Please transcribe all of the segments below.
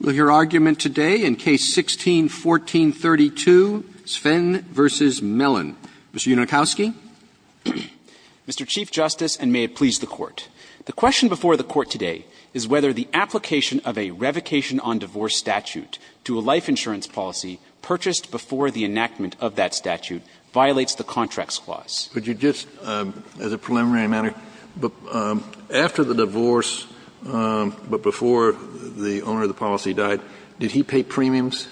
Mr. Yudnokowsky? Mr. Chief Justice, and may it please the Court, the question before the Court today is whether the application of a revocation-on-divorce statute to a life insurance policy purchased before the enactment of that statute violates the Contracts Clause. Could you just, as a preliminary matter, after the divorce, but before the owner of the policy died, did he pay premiums?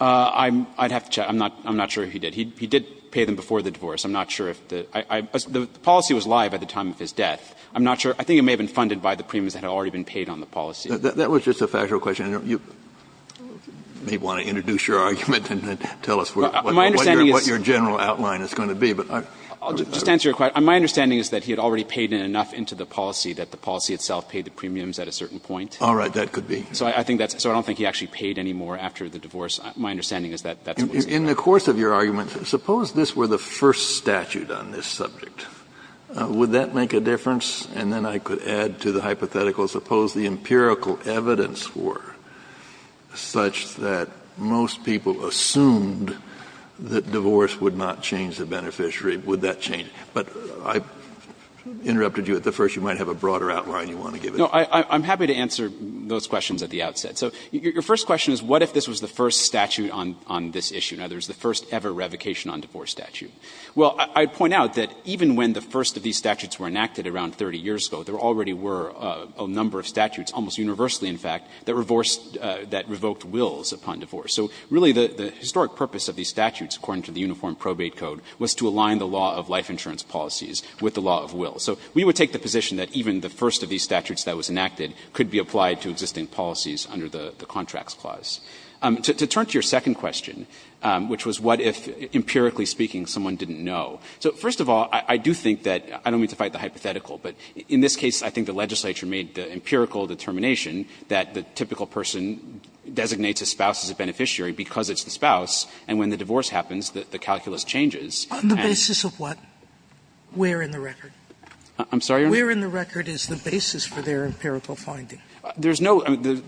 Mr. Yudnokowsky? I'd have to check. I'm not sure he did. He did pay them before the divorce. I'm not sure if the – the policy was live at the time of his death. I'm not sure. I think it may have been funded by the premiums that had already been paid on the policy. That was just a factual question. You may want to introduce your argument and then tell us what your general outline is going to be. I'll just answer your question. My understanding is that he had already paid enough into the policy that the policy itself paid the premiums at a certain point. All right. That could be. So I think that's – so I don't think he actually paid any more after the divorce. My understanding is that that's what he said. In the course of your argument, suppose this were the first statute on this subject. Would that make a difference? And then I could add to the hypothetical, suppose the empirical evidence were such that most people assumed that divorce would not change the beneficiary. Would that change? You might have a broader outline you want to give us. No, I'm happy to answer those questions at the outset. So your first question is what if this was the first statute on this issue? Now, there's the first ever revocation on divorce statute. Well, I'd point out that even when the first of these statutes were enacted around 30 years ago, there already were a number of statutes, almost universally, in fact, that revoked wills upon divorce. So really the historic purpose of these statutes, according to the Uniform Probate Code, was to align the law of life insurance policies with the law of will. So we would take the position that even the first of these statutes that was enacted could be applied to existing policies under the Contracts Clause. To turn to your second question, which was what if, empirically speaking, someone didn't know. So first of all, I do think that, I don't mean to fight the hypothetical, but in this case, I think the legislature made the empirical determination that the typical person designates a spouse as a beneficiary because it's the spouse. And when the divorce happens, the calculus changes. And the basis of what? Where in the record? I'm sorry. Where in the record is the basis for their empirical finding? There's no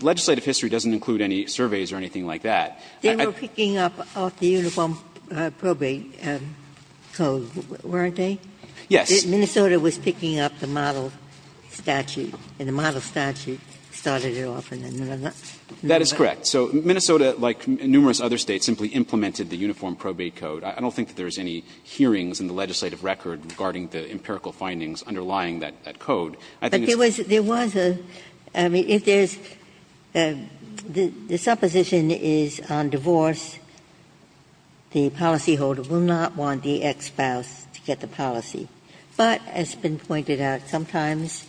legislative history doesn't include any surveys or anything like that. They were picking up off the Uniform Probate Code, weren't they? Yes. Minnesota was picking up the model statute and the model statute started it off. That is correct. So Minnesota, like numerous other States, simply implemented the Uniform Probate Code. I don't think that there's any hearings in the legislative record regarding the empirical findings underlying that code. I think it's just that there was a, I mean, if there's the supposition is on divorce, the policyholder will not want the ex-spouse to get the policy. But as has been pointed out, sometimes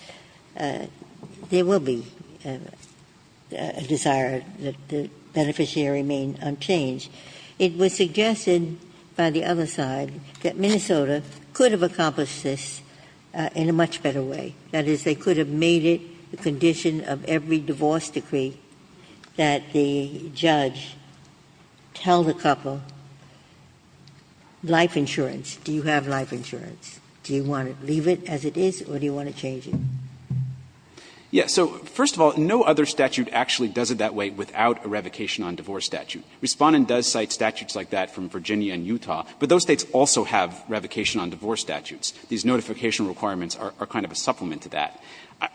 there will be a desire that the beneficiary remain unchanged. It was suggested by the other side that Minnesota could have accomplished this in a much better way. That is, they could have made it the condition of every divorce decree that the judge tell the couple, life insurance, do you have life insurance? Do you want to leave it as it is or do you want to change it? Yes. So first of all, no other statute actually does it that way without a revocation on divorce statute. Respondent does cite statutes like that from Virginia and Utah, but those States also have revocation on divorce statutes. These notification requirements are kind of a supplement to that.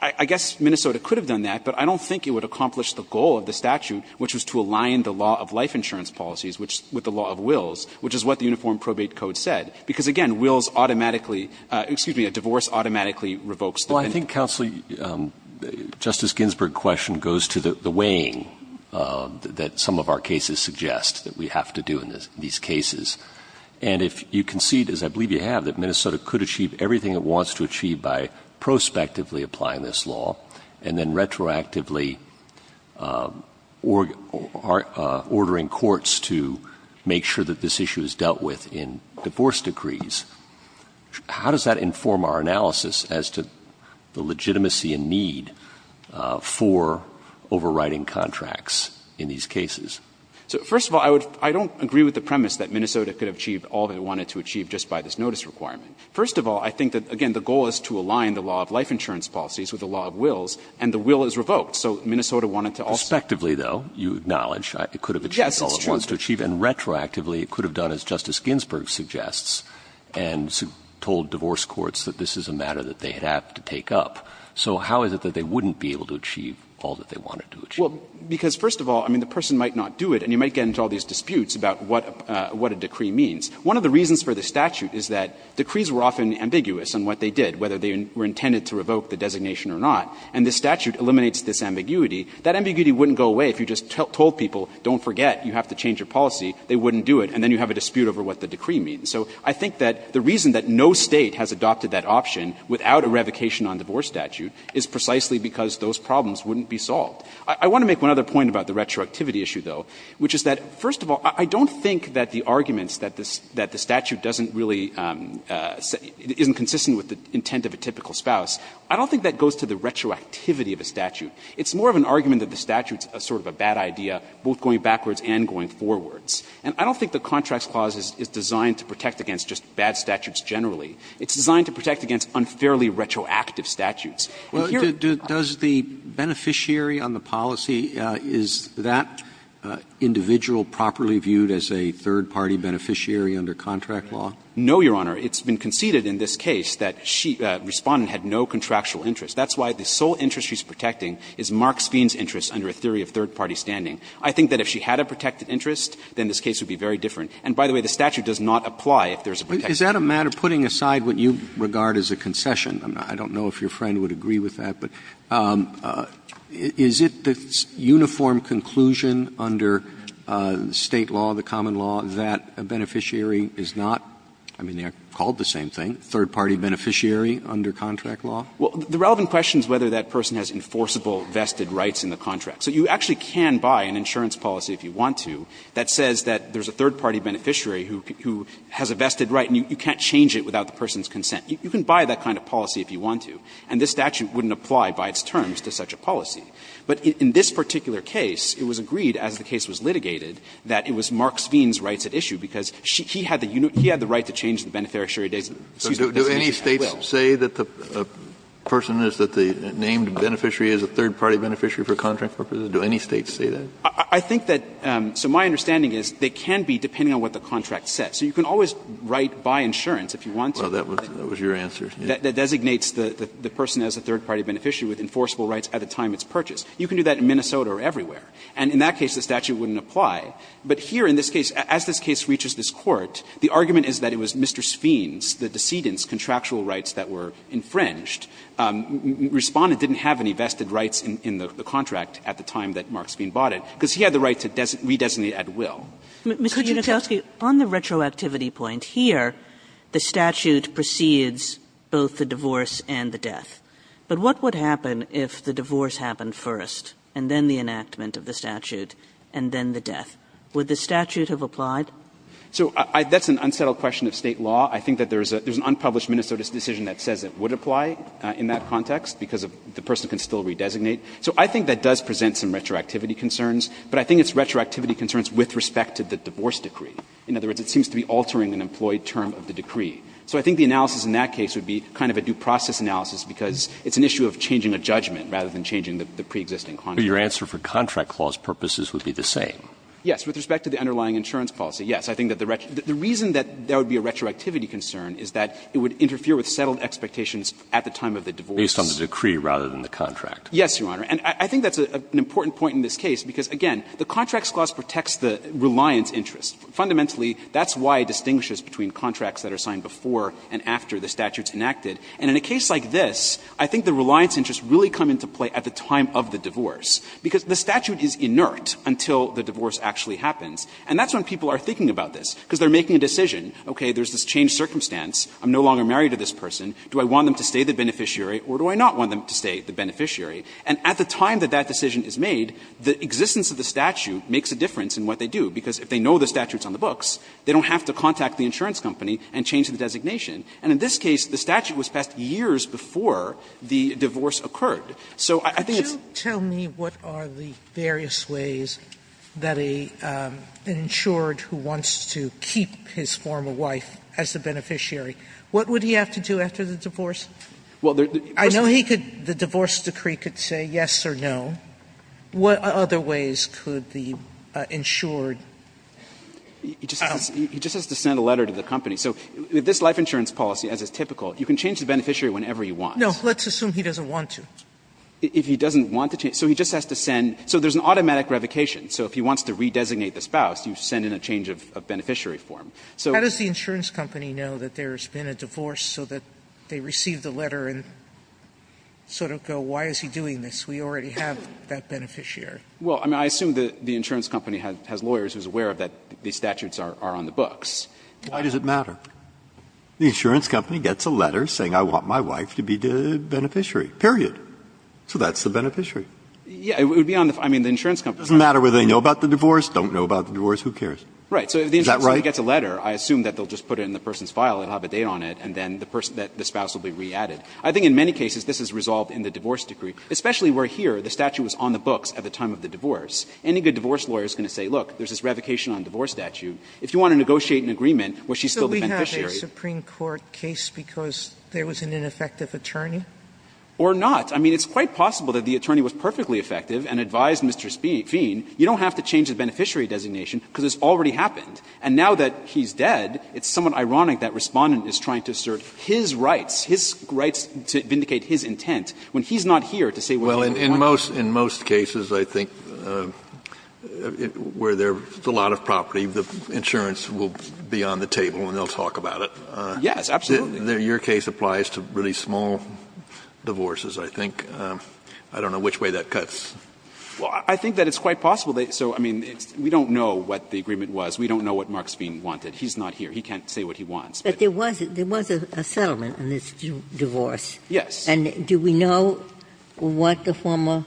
I guess Minnesota could have done that, but I don't think it would accomplish the goal of the statute, which was to align the law of life insurance policies with the law of wills, which is what the Uniform Probate Code said. Because, again, wills automatically, excuse me, a divorce automatically revokes the penalty. Justice Ginsburg's question goes to the weighing that some of our cases suggest that we have to do in these cases. And if you concede, as I believe you have, that Minnesota could achieve everything it wants to achieve by prospectively applying this law and then retroactively ordering courts to make sure that this issue is dealt with in divorce decrees, how does that inform our analysis as to the legitimacy and need for overriding contracts in these cases? First of all, I don't agree with the premise that Minnesota could have achieved all they wanted to achieve just by this notice requirement. First of all, I think that, again, the goal is to align the law of life insurance policies with the law of wills, and the will is revoked. So Minnesota wanted to also do that. Prospectively, though, you acknowledge it could have achieved all it wants to achieve. Yes, it's true. And retroactively, it could have done, as Justice Ginsburg suggests, and told divorce courts that this is a matter that they have to take up. So how is it that they wouldn't be able to achieve all that they wanted to achieve? Well, because first of all, I mean, the person might not do it, and you might get into all these disputes about what a decree means. One of the reasons for the statute is that decrees were often ambiguous on what they did, whether they were intended to revoke the designation or not. And the statute eliminates this ambiguity. That ambiguity wouldn't go away if you just told people, don't forget, you have to change your policy, they wouldn't do it. And then you have a dispute over what the decree means. So I think that the reason that no State has adopted that option without a revocation on divorce statute is precisely because those problems wouldn't be solved. I want to make one other point about the retroactivity issue, though, which is that, first of all, I don't think that the arguments that the statute doesn't really isn't consistent with the intent of a typical spouse. I don't think that goes to the retroactivity of a statute. It's more of an argument that the statute is sort of a bad idea, both going backwards and going forwards. And I don't think the Contracts Clause is designed to protect against just bad statutes generally. It's designed to protect against unfairly retroactive statutes. And here are the problems. Roberts, does the beneficiary on the policy, is that individual properly viewed as a third-party beneficiary under contract law? No, Your Honor. It's been conceded in this case that she, Respondent, had no contractual interest. That's why the sole interest she's protecting is Mark Sveen's interest under a theory of third-party standing. I think that if she had a protected interest, then this case would be very different. And by the way, the statute does not apply if there's a protected interest. Is that a matter of putting aside what you regard as a concession? I don't know if your friend would agree with that, but is it the uniform conclusion under State law, the common law, that a beneficiary is not, I mean, they are called the same thing, third-party beneficiary under contract law? Well, the relevant question is whether that person has enforceable vested rights in the contract. So you actually can buy an insurance policy, if you want to, that says that there's a third-party beneficiary who has a vested right, and you can't change it without the person's consent. You can buy that kind of policy if you want to, and this statute wouldn't apply by its terms to such a policy. But in this particular case, it was agreed as the case was litigated that it was Mark Sveen's rights at issue, because he had the right to change the beneficiary's designation at will. Kennedy, do any States say that the person is that the named beneficiary is a third-party beneficiary for contract purposes? Do any States say that? I think that so my understanding is they can be, depending on what the contract says. So you can always write buy insurance if you want to. Well, that was your answer. That designates the person as a third-party beneficiary with enforceable rights at the time it's purchased. You can do that in Minnesota or everywhere. And in that case, the statute wouldn't apply. But here in this case, as this case reaches this Court, the argument is that it was Mr. Sween's, the decedent's, contractual rights that were infringed. Respondent didn't have any vested rights in the contract at the time that Mark Sween bought it, because he had the right to redesignate at will. Mr. Kuczynski, on the retroactivity point here, the statute precedes both the divorce and the death. But what would happen if the divorce happened first, and then the enactment of the statute, and then the death? Would the statute have applied? So that's an unsettled question of State law. I think that there's an unpublished Minnesota's decision that says it would apply. In that context, because the person can still redesignate. So I think that does present some retroactivity concerns, but I think it's retroactivity concerns with respect to the divorce decree. In other words, it seems to be altering an employed term of the decree. So I think the analysis in that case would be kind of a due process analysis, because it's an issue of changing a judgment rather than changing the preexisting contract. Roberts. But your answer for contract clause purposes would be the same. Yes. With respect to the underlying insurance policy, yes. I think that the reason that there would be a retroactivity concern is that it would apply at the time of the divorce. Based on the decree rather than the contract. Yes, Your Honor. And I think that's an important point in this case, because, again, the contracts clause protects the reliance interest. Fundamentally, that's why it distinguishes between contracts that are signed before and after the statute's enacted. And in a case like this, I think the reliance interests really come into play at the time of the divorce, because the statute is inert until the divorce actually happens. And that's when people are thinking about this, because they're making a decision, okay, there's this changed circumstance, I'm no longer married to this person, do I want them to stay the beneficiary, or do I not want them to stay the beneficiary? And at the time that that decision is made, the existence of the statute makes a difference in what they do, because if they know the statute's on the books, they don't have to contact the insurance company and change the designation. And in this case, the statute was passed years before the divorce occurred. So I think it's the case that the contract clause protects the reliance interest. Sotomayor, could you tell me what are the various ways that an insured who wants to keep his former wife as the beneficiary, what would he have to do after the divorce? I know he could, the divorce decree could say yes or no. What other ways could the insured? He just has to send a letter to the company. So this life insurance policy, as is typical, you can change the beneficiary whenever you want. No, let's assume he doesn't want to. If he doesn't want to change. So he just has to send, so there's an automatic revocation. So if he wants to redesignate the spouse, you send in a change of beneficiary form. So how does the insurance company know that there's been a divorce so that they receive the letter and sort of go, why is he doing this? We already have that beneficiary. Well, I mean, I assume that the insurance company has lawyers who are aware that these statutes are on the books. Why does it matter? The insurance company gets a letter saying I want my wife to be the beneficiary, period. So that's the beneficiary. Yeah, it would be on the, I mean, the insurance company. It doesn't matter whether they know about the divorce, don't know about the divorce, who cares? Right. So if the insurance company gets a letter. I assume that they'll just put it in the person's file, they'll have a date on it, and then the person, the spouse will be re-added. I think in many cases this is resolved in the divorce decree, especially where here the statute was on the books at the time of the divorce. Any good divorce lawyer is going to say, look, there's this revocation on divorce statute. If you want to negotiate an agreement where she's still the beneficiary. Sotomayor So we have a Supreme Court case because there was an ineffective attorney? Or not. I mean, it's quite possible that the attorney was perfectly effective and advised Mr. Fien, you don't have to change the beneficiary designation because it's already happened. And now that he's dead, it's somewhat ironic that Respondent is trying to assert his rights, his rights to vindicate his intent when he's not here to say what he's going to do. Kennedy Well, in most cases I think where there's a lot of property, the insurance will be on the table and they'll talk about it. Sotomayor Yes, absolutely. Kennedy Your case applies to really small divorces, I think. I don't know which way that cuts. Sotomayor Well, I think that it's quite possible. So, I mean, we don't know what the agreement was. We don't know what Marks Fien wanted. He's not here. He can't say what he wants. Ginsburg But there was a settlement on this divorce. Kennedy Yes. Ginsburg And do we know what the former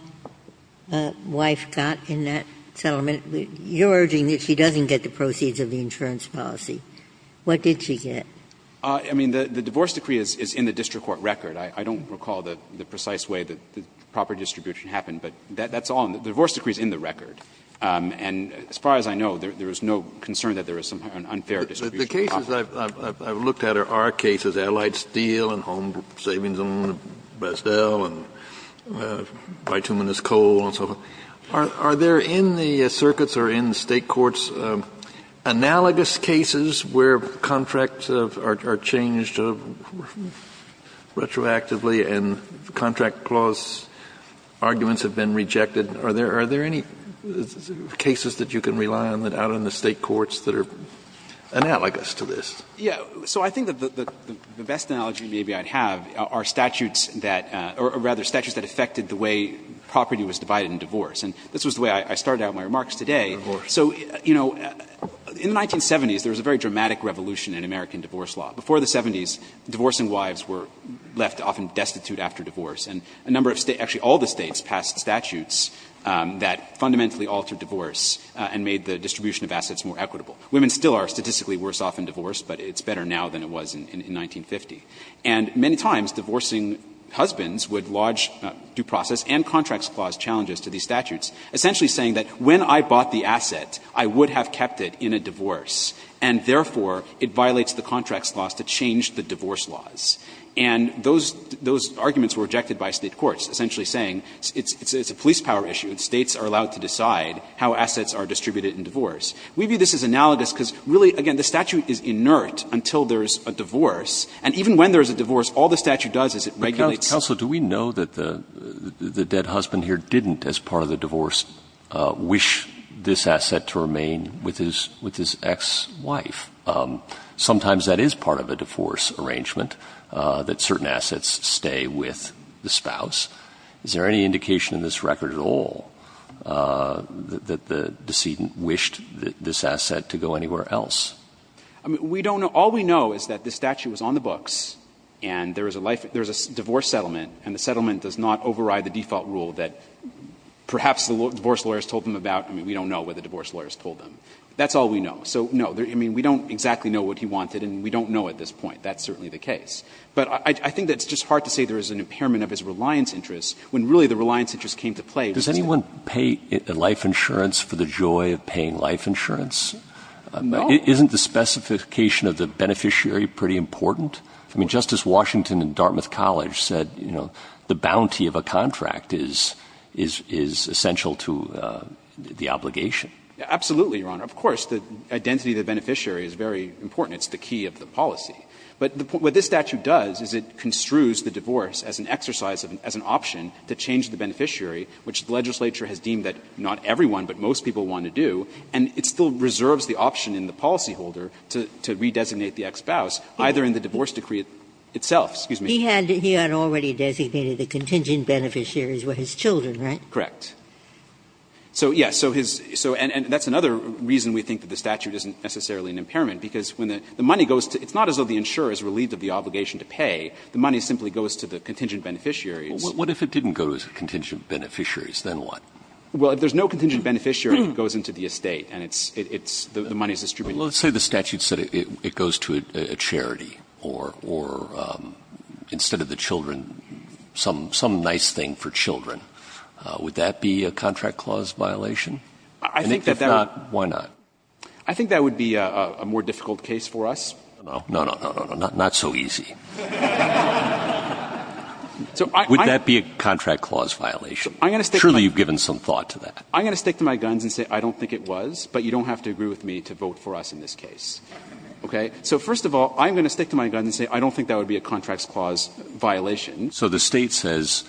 wife got in that settlement? You're urging that she doesn't get the proceeds of the insurance policy. What did she get? Kennedy I mean, the divorce decree is in the district court record. I don't recall the precise way that the property distribution happened, but that's all in the record. The divorce decree is in the record. And as far as I know, there is no concern that there is some unfair distribution of property. Kennedy The cases I've looked at are our cases, Allied Steel and Home Savings Zone, Brest- Dell and Bituminous Coal and so forth. Are there in the circuits or in the State courts analogous cases where contracts are changed retroactively and contract clause arguments have been rejected? Are there any cases that you can rely on out in the State courts that are analogous Kennedy Yes. So I think the best analogy maybe I'd have are statutes that or rather statutes that affected the way property was divided in divorce. And this was the way I started out my remarks today. So, you know, in the 1970s, there was a very dramatic revolution in American divorce law. Before the 70s, divorcing wives were left often destitute after divorce. And a number of States, actually all the States passed statutes that fundamentally altered divorce and made the distribution of assets more equitable. Women still are statistically worse off in divorce, but it's better now than it was in 1950. And many times, divorcing husbands would lodge due process and contracts clause challenges to these statutes, essentially saying that when I bought the asset, I would have kept it in a divorce, and therefore, it violates the contracts clause to change the divorce laws. And those arguments were rejected by State courts, essentially saying it's a police power issue, and States are allowed to decide how assets are distributed in divorce. We view this as analogous because, really, again, the statute is inert until there is a divorce. And even when there is a divorce, all the statute does is it regulates. Breyer Counsel, do we know that the dead husband here didn't, as part of the divorce, wish this asset to remain with his ex-wife? Sometimes that is part of a divorce arrangement. That certain assets stay with the spouse. Is there any indication in this record at all that the decedent wished this asset to go anywhere else? I mean, we don't know. All we know is that the statute was on the books, and there is a divorce settlement, and the settlement does not override the default rule that perhaps the divorce lawyers told them about. I mean, we don't know what the divorce lawyers told them. That's all we know. So, no, I mean, we don't exactly know what he wanted, and we don't know at this point. That's certainly the case. But I think that it's just hard to say there is an impairment of his reliance interests when really the reliance interests came to play. Does anyone pay life insurance for the joy of paying life insurance? No. Isn't the specification of the beneficiary pretty important? I mean, Justice Washington in Dartmouth College said, you know, the bounty of a contract is essential to the obligation. Absolutely, Your Honor. Of course, the identity of the beneficiary is very important. It's the key of the policy. But what this statute does is it construes the divorce as an exercise, as an option to change the beneficiary, which the legislature has deemed that not everyone but most people want to do, and it still reserves the option in the policyholder to redesignate the ex-spouse, either in the divorce decree itself. Excuse me. Ginsburg. He had already designated the contingent beneficiaries were his children, right? Correct. So, yes, so his so and that's another reason we think that the statute isn't necessarily an impairment, because when the money goes to – it's not as though the insurer is relieved of the obligation to pay. The money simply goes to the contingent beneficiaries. Well, what if it didn't go to the contingent beneficiaries, then what? Well, if there's no contingent beneficiary, it goes into the estate, and it's – it's – the money is distributed. Well, let's say the statute said it goes to a charity or instead of the children, some nice thing for children. Would that be a contract clause violation? I think that that would be a violation. If not, why not? I think that would be a more difficult case for us. No, no, no, no, no, no, not so easy. Would that be a contract clause violation? I'm going to stick to my guns and say I don't think it was, but you don't have to agree with me to vote for us in this case. Okay. So first of all, I'm going to stick to my guns and say I don't think that would be a contracts clause violation. So the State says,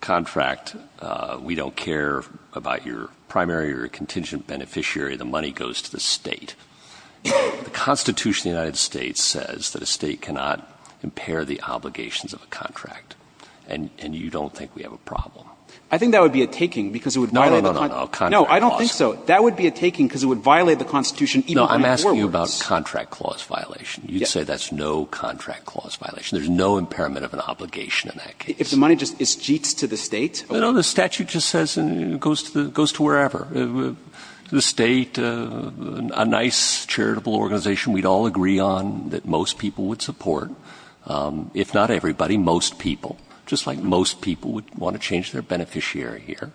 contract, we don't care about your primary or contingent beneficiary, the money goes to the State. The Constitution of the United States says that a State cannot impair the obligations of a contract, and you don't think we have a problem. I think that would be a taking because it would violate the contract. No, no, no, no, no, contract clause. No, I don't think so. That would be a taking because it would violate the Constitution even by four words. No, I'm asking you about contract clause violation. You'd say that's no contract clause violation. There's no impairment of an obligation in that case. If the money just isjeets to the State? No, no, the statute just says it goes to wherever. The State, a nice charitable organization we'd all agree on that most people would support. If not everybody, most people, just like most people would want to change their beneficiary here.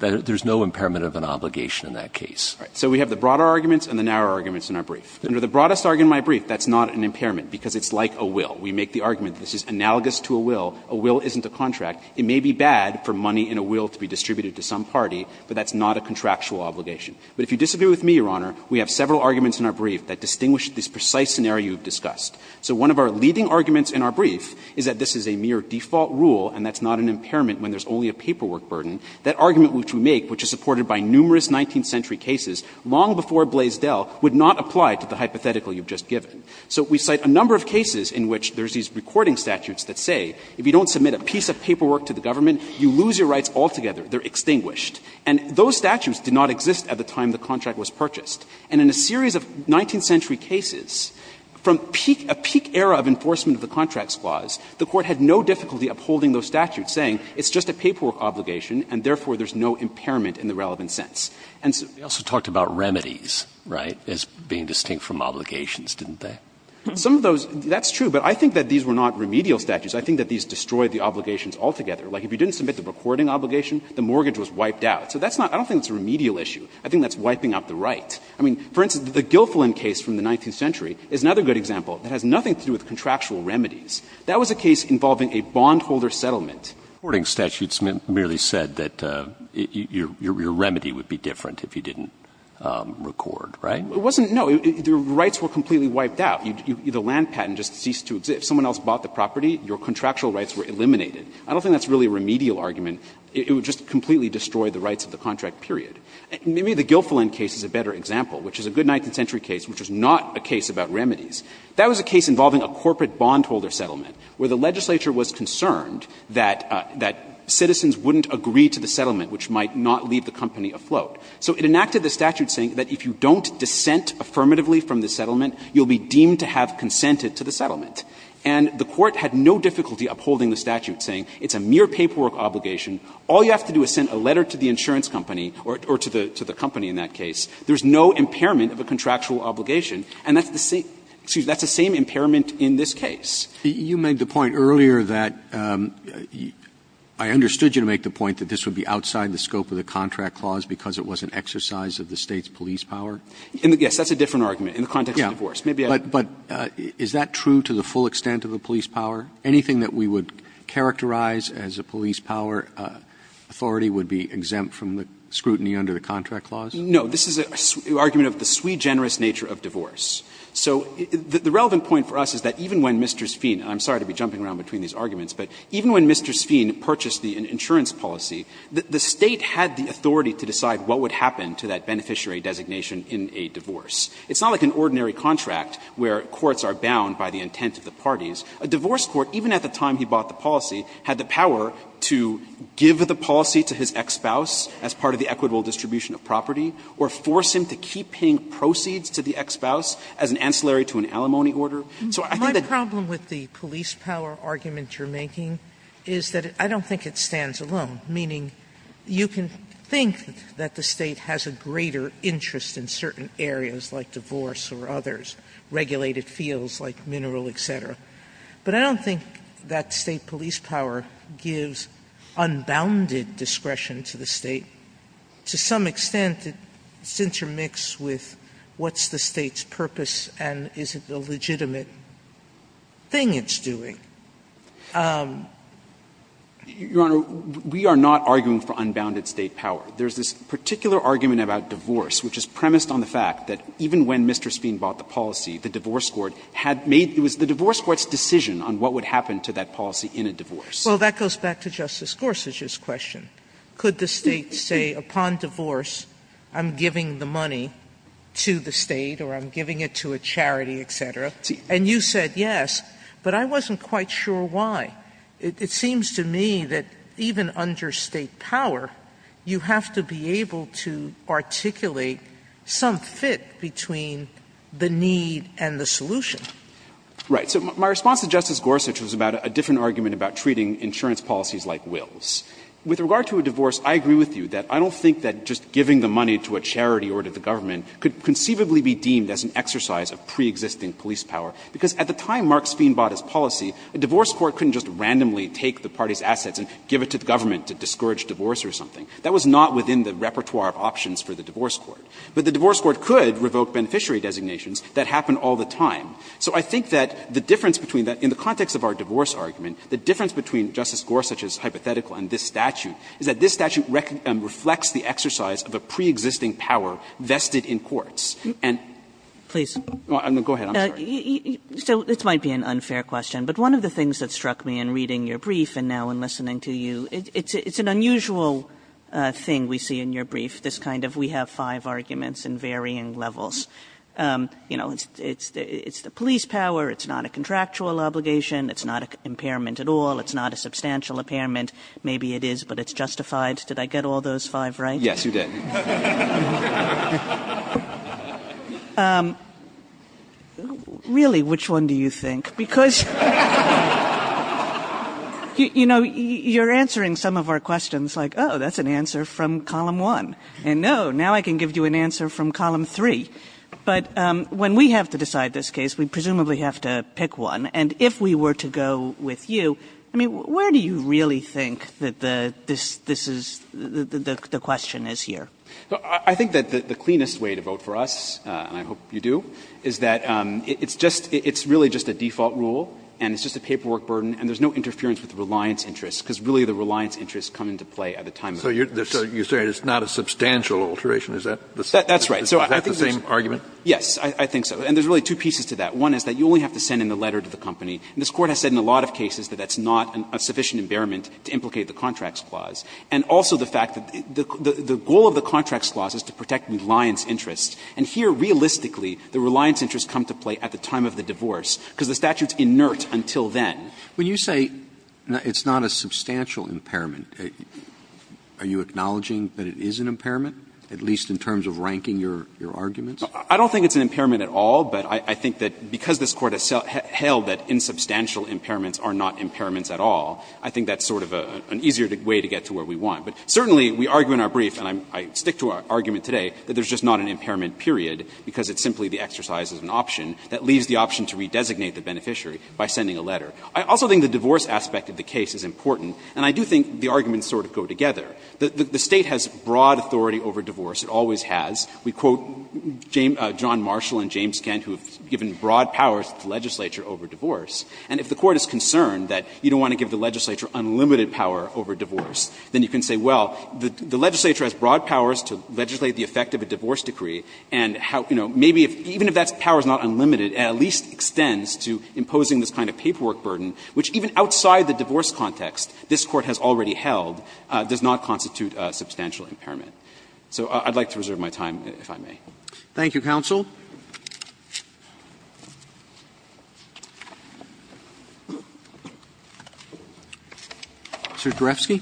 There's no impairment of an obligation in that case. All right. So we have the broader arguments and the narrower arguments in our brief. Under the broadest argument in my brief, that's not an impairment because it's like a will. We make the argument this is analogous to a will. A will isn't a contract. It may be bad for money in a will to be distributed to some party, but that's not a contractual obligation. But if you disagree with me, Your Honor, we have several arguments in our brief that distinguish this precise scenario you've discussed. So one of our leading arguments in our brief is that this is a mere default rule and that's not an impairment when there's only a paperwork burden. That argument which we make, which is supported by numerous 19th century cases long before Blaisdell, would not apply to the hypothetical you've just given. So we cite a number of cases in which there's these recording statutes that say if you don't submit a piece of paperwork to the government, you lose your rights altogether. They're extinguished. And those statutes did not exist at the time the contract was purchased. And in a series of 19th century cases, from a peak era of enforcement of the Contracts Clause, the Court had no difficulty upholding those statutes, saying it's just a paperwork obligation and therefore there's no impairment in the relevant sense. And so we also talked about remedies, right, as being distinct from obligations, didn't they? Some of those, that's true, but I think that these were not remedial statutes. I think that these destroyed the obligations altogether. Like, if you didn't submit the recording obligation, the mortgage was wiped out. So that's not — I don't think that's a remedial issue. I think that's wiping out the right. I mean, for instance, the Gilfillan case from the 19th century is another good example that has nothing to do with contractual remedies. That was a case involving a bondholder settlement. Roberts. Breyer. Reporting statutes merely said that your remedy would be different if you didn't record, right? It wasn't — no, the rights were completely wiped out. The land patent just ceased to exist. If someone else bought the property, your contractual rights were eliminated. I don't think that's really a remedial argument. It would just completely destroy the rights of the contract, period. Maybe the Gilfillan case is a better example, which is a good 19th century case, which is not a case about remedies. That was a case involving a corporate bondholder settlement, where the legislature was concerned that citizens wouldn't agree to the settlement, which might not leave the company afloat. So it enacted the statute saying that if you don't dissent affirmatively from the settlement, you'll be deemed to have consented to the settlement. And the Court had no difficulty upholding the statute, saying it's a mere paperwork obligation. All you have to do is send a letter to the insurance company, or to the company in that case. There's no impairment of a contractual obligation. And that's the same — excuse me, that's the same impairment in this case. You made the point earlier that — I understood you to make the point that this would be outside the scope of the contract clause because it was an exercise of the State's police power. Yes, that's a different argument in the context of divorce. But is that true to the full extent of the police power? Anything that we would characterize as a police power authority would be exempt from the scrutiny under the contract clause? No. This is an argument of the sui generis nature of divorce. So the relevant point for us is that even when Mr. Sphean — and I'm sorry to be jumping around between these arguments — but even when Mr. Sphean purchased the insurance policy, the State had the authority to decide what would happen to that beneficiary designation in a divorce. It's not like an ordinary contract where courts are bound by the intent of the parties. A divorce court, even at the time he bought the policy, had the power to give the policy to his ex-spouse as part of the equitable distribution of property or force him to keep paying proceeds to the ex-spouse as an ancillary to an alimony order. So I think that the — Sotomayor, my problem with the police power argument you're making is that I don't think it stands alone, meaning you can think that the State has a greater interest in certain areas like divorce or others, regulated fields like mineral, et cetera. But I don't think that State police power gives unbounded discretion to the State. To some extent, it's intermixed with what's the State's purpose and is it a legitimate thing it's doing. Your Honor, we are not arguing for unbounded State power. There's this particular argument about divorce which is premised on the fact that even when Mr. Spine bought the policy, the divorce court had made — it was the divorce court's decision on what would happen to that policy in a divorce. Sotomayor, well, that goes back to Justice Gorsuch's question. Could the State say, upon divorce, I'm giving the money to the State or I'm giving it to a charity, et cetera, and you said yes, but I wasn't quite sure why. It seems to me that even under State power, you have to be able to articulate some fit between the need and the solution. Right. So my response to Justice Gorsuch was about a different argument about treating insurance policies like wills. With regard to a divorce, I agree with you that I don't think that just giving the money to a charity or to the government could conceivably be deemed as an exercise of preexisting police power, because at the time Mark Spine bought his policy, a divorce court couldn't just randomly take the party's assets and give it to the government to discourage divorce or something. That was not within the repertoire of options for the divorce court. But the divorce court could revoke beneficiary designations. That happened all the time. So I think that the difference between that — in the context of our divorce argument, the difference between Justice Gorsuch's hypothetical and this statute is that this statute reflects the exercise of a preexisting power vested in courts. And — Kagan. Please. No, go ahead. I'm sorry. So this might be an unfair question, but one of the things that struck me in reading your brief and now in listening to you, it's an unusual thing we see in your brief, this kind of we have five arguments in varying levels. You know, it's the police power, it's not a contractual obligation, it's not an impairment at all, it's not a substantial impairment. Maybe it is, but it's justified. Did I get all those five right? Yes, you did. Really, which one do you think? Because — You know, you're answering some of our questions like, oh, that's an answer from column one. And no, now I can give you an answer from column three. But when we have to decide this case, we presumably have to pick one. And if we were to go with you, I mean, where do you really think that the — this is — the question is here? I think that the cleanest way to vote for us, and I hope you do, is that it's just — it's really just a default rule, and it's just a paperwork burden, and there's no interference with the reliance interest, because really the reliance interest come into play at the time of — So you're saying it's not a substantial alteration, is that the same argument? Yes, I think so. And there's really two pieces to that. One is that you only have to send in a letter to the company. And this Court has said in a lot of cases that that's not a sufficient impairment to implicate the contracts clause. And also the fact that the goal of the contracts clause is to protect reliance interest. And here, realistically, the reliance interest come to play at the time of the divorce, because the statute's inert until then. When you say it's not a substantial impairment, are you acknowledging that it is an impairment, at least in terms of ranking your arguments? I don't think it's an impairment at all, but I think that because this Court has held that insubstantial impairments are not impairments at all, I think that's sort of an easier way to get to where we want. But certainly, we argue in our brief, and I stick to our argument today, that there's just not an impairment period, because it's simply the exercise of an option that leaves the option to redesignate the beneficiary by sending a letter. I also think the divorce aspect of the case is important, and I do think the arguments sort of go together. The State has broad authority over divorce. It always has. We quote John Marshall and James Kent, who have given broad powers to the legislature over divorce. And if the Court is concerned that you don't want to give the legislature unlimited power over divorce, then you can say, well, the legislature has broad powers to legislate the effect of a divorce decree, and how, you know, maybe even if that power is not unlimited, it at least extends to imposing this kind of paperwork burden, which even outside the divorce context this Court has already held, does not constitute a substantial impairment. So I'd like to reserve my time, if I may. Thank you, counsel. Mr. Derefsky.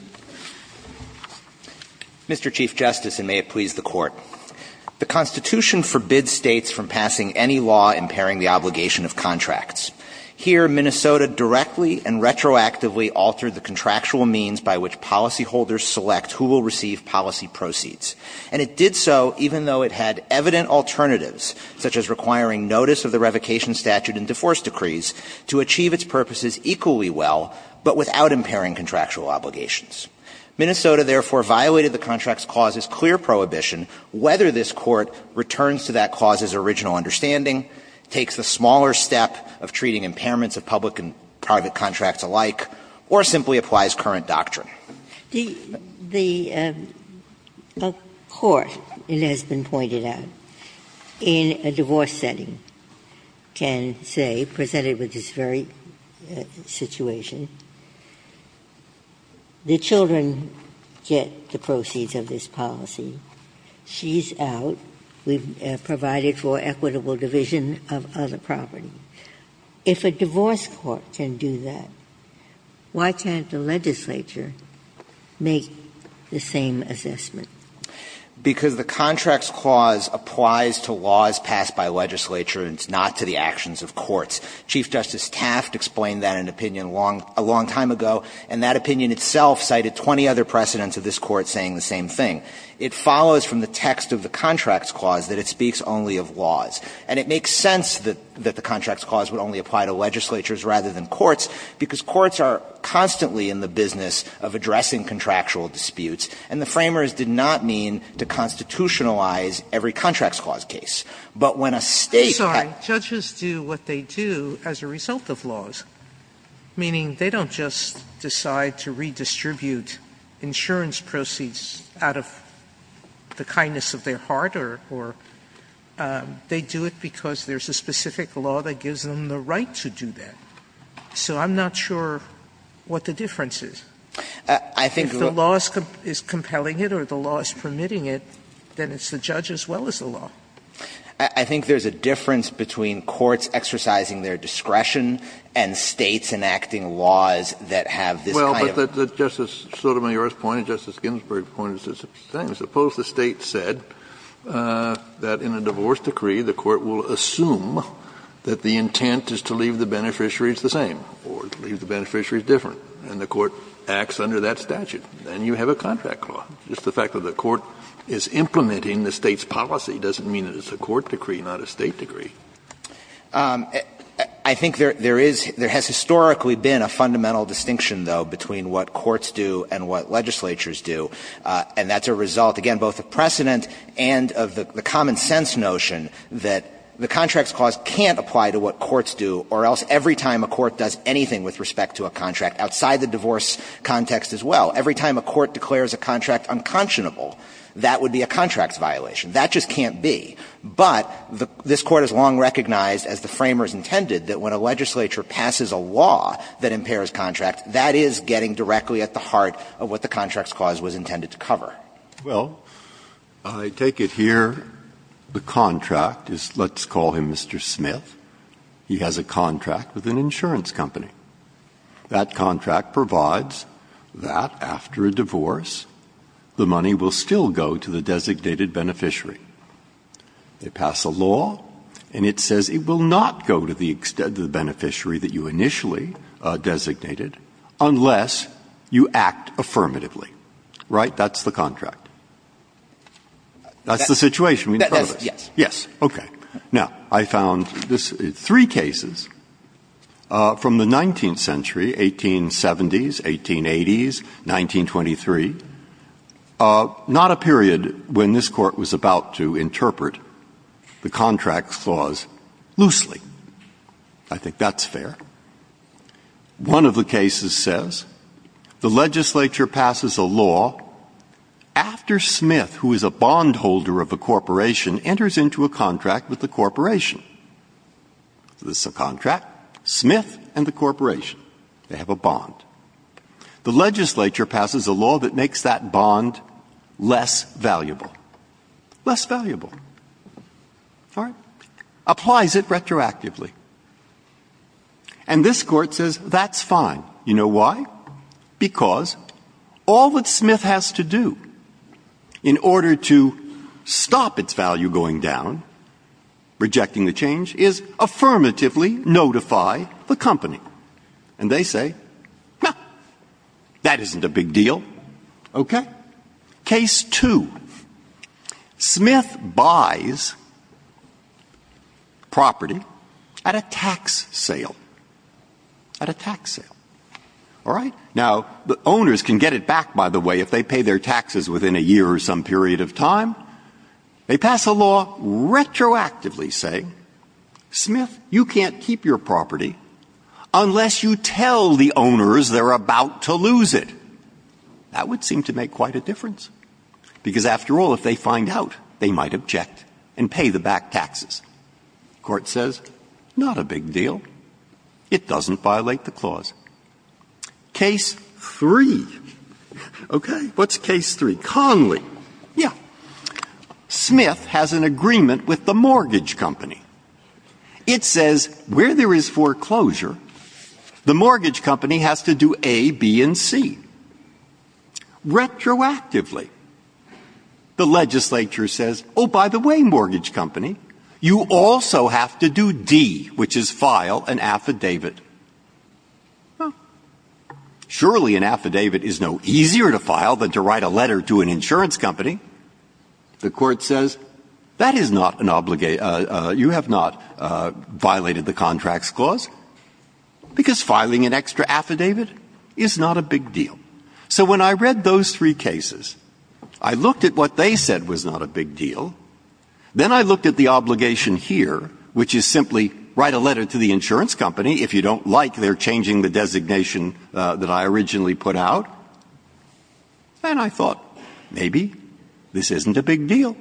Mr. Chief Justice, and may it please the Court. The Constitution forbids States from passing any law impairing the obligation of contracts. Here, Minnesota directly and retroactively altered the contractual means by which policyholders select who will receive policy proceeds. And it did so even though it had evident alternatives, such as requiring notice of the revocation statute and divorce decrees, to achieve its purposes equally well, but without impairing contractual obligations. Minnesota, therefore, violated the contract's clause's clear prohibition whether this Court returns to that clause's original understanding, takes the smaller step of treating impairments of public and private contracts alike, or simply applies current doctrine. Ginsburg. The Court, it has been pointed out, in a divorce setting can say, presented with this very situation, the children get the proceeds of this policy, she's out, we've provided for equitable division of other property. If a divorce court can do that, why can't the legislature make the same assessment? Because the contract's clause applies to laws passed by legislature and it's not to the actions of courts. Chief Justice Taft explained that in an opinion a long time ago, and that opinion itself cited 20 other precedents of this Court saying the same thing. It follows from the text of the contract's clause that it speaks only of laws. And it makes sense that the contract's clause would only apply to legislatures rather than courts, because courts are constantly in the business of addressing contractual disputes, and the framers did not mean to constitutionalize every contract's clause case. But when a State had to do that. Sotomayor, I'm sorry, judges do what they do as a result of laws, meaning they don't just decide to redistribute insurance proceeds out of the kindness of their heart or they do it because there's a specific law that gives them the right to do that. So I'm not sure what the difference is. If the law is compelling it or the law is permitting it, then it's the judge as well as the law. I think there's a difference between courts exercising their discretion and States enacting laws that have this kind of. Well, but Justice Sotomayor's point and Justice Ginsburg's point is the same. Suppose the State said that in a divorce decree the Court will assume that the intent is to leave the beneficiaries the same or to leave the beneficiaries different, and the Court acts under that statute. Then you have a contract clause. Just the fact that the Court is implementing the State's policy doesn't mean that it's a court decree, not a State decree. I think there is — there has historically been a fundamental distinction, though, between what courts do and what legislatures do, and that's a result of the precedent and of the common-sense notion that the contracts clause can't apply to what courts do, or else every time a court does anything with respect to a contract outside the divorce context as well, every time a court declares a contract unconscionable, that would be a contracts violation. That just can't be. But this Court has long recognized, as the framers intended, that when a legislature passes a law that impairs contracts, that is getting directly at the heart of what the contracts clause was intended to cover. Breyer. Well, I take it here the contract is, let's call him Mr. Smith, he has a contract with an insurance company. That contract provides that after a divorce the money will still go to the designated beneficiary. They pass a law, and it says it will not go to the extended beneficiary that you initially designated, unless you act affirmatively, right? That's the contract. That's the situation we're in front of. Yes. Yes. Okay. Now, I found this three cases from the 19th century, 1870s, 1880s, 1923, not a period when this Court was about to interpret the contracts clause loosely. I think that's fair. One of the cases says the legislature passes a law after Smith, who is a bondholder of a corporation, enters into a contract with the corporation. This is a contract, Smith and the corporation. They have a bond. The legislature passes a law that makes that bond less valuable. Less valuable. All right? Applies it retroactively. And this Court says that's fine. You know why? Because all that Smith has to do in order to stop its value going down, rejecting the change, is affirmatively notify the company. And they say, no, that isn't a big deal. Okay? Case two. Smith buys property at a tax sale. At a tax sale. All right? Now, the owners can get it back, by the way, if they pay their taxes within a year or some period of time. They pass a law retroactively saying, Smith, you can't keep your property unless you tell the owners they're about to lose it. That would seem to make quite a difference. Because after all, if they find out, they might object and pay the back taxes. Court says, not a big deal. It doesn't violate the clause. Case three. Okay? What's case three? Conley. Yeah. Smith has an agreement with the mortgage company. It says, where there is foreclosure, the mortgage company has to do A, B, and C. Retroactively, the legislature says, oh, by the way, mortgage company, you also have to do D, which is file an affidavit. Surely an affidavit is no easier to file than to write a letter to an insurance company. The court says, that is not an obligation. You have not violated the contracts clause, because filing an extra affidavit is not a big deal. So when I read those three cases, I looked at what they said was not a big deal. Then I looked at the obligation here, which is simply write a letter to the insurance company if you don't like their changing the designation that I originally put out. And I thought, maybe this isn't a big deal,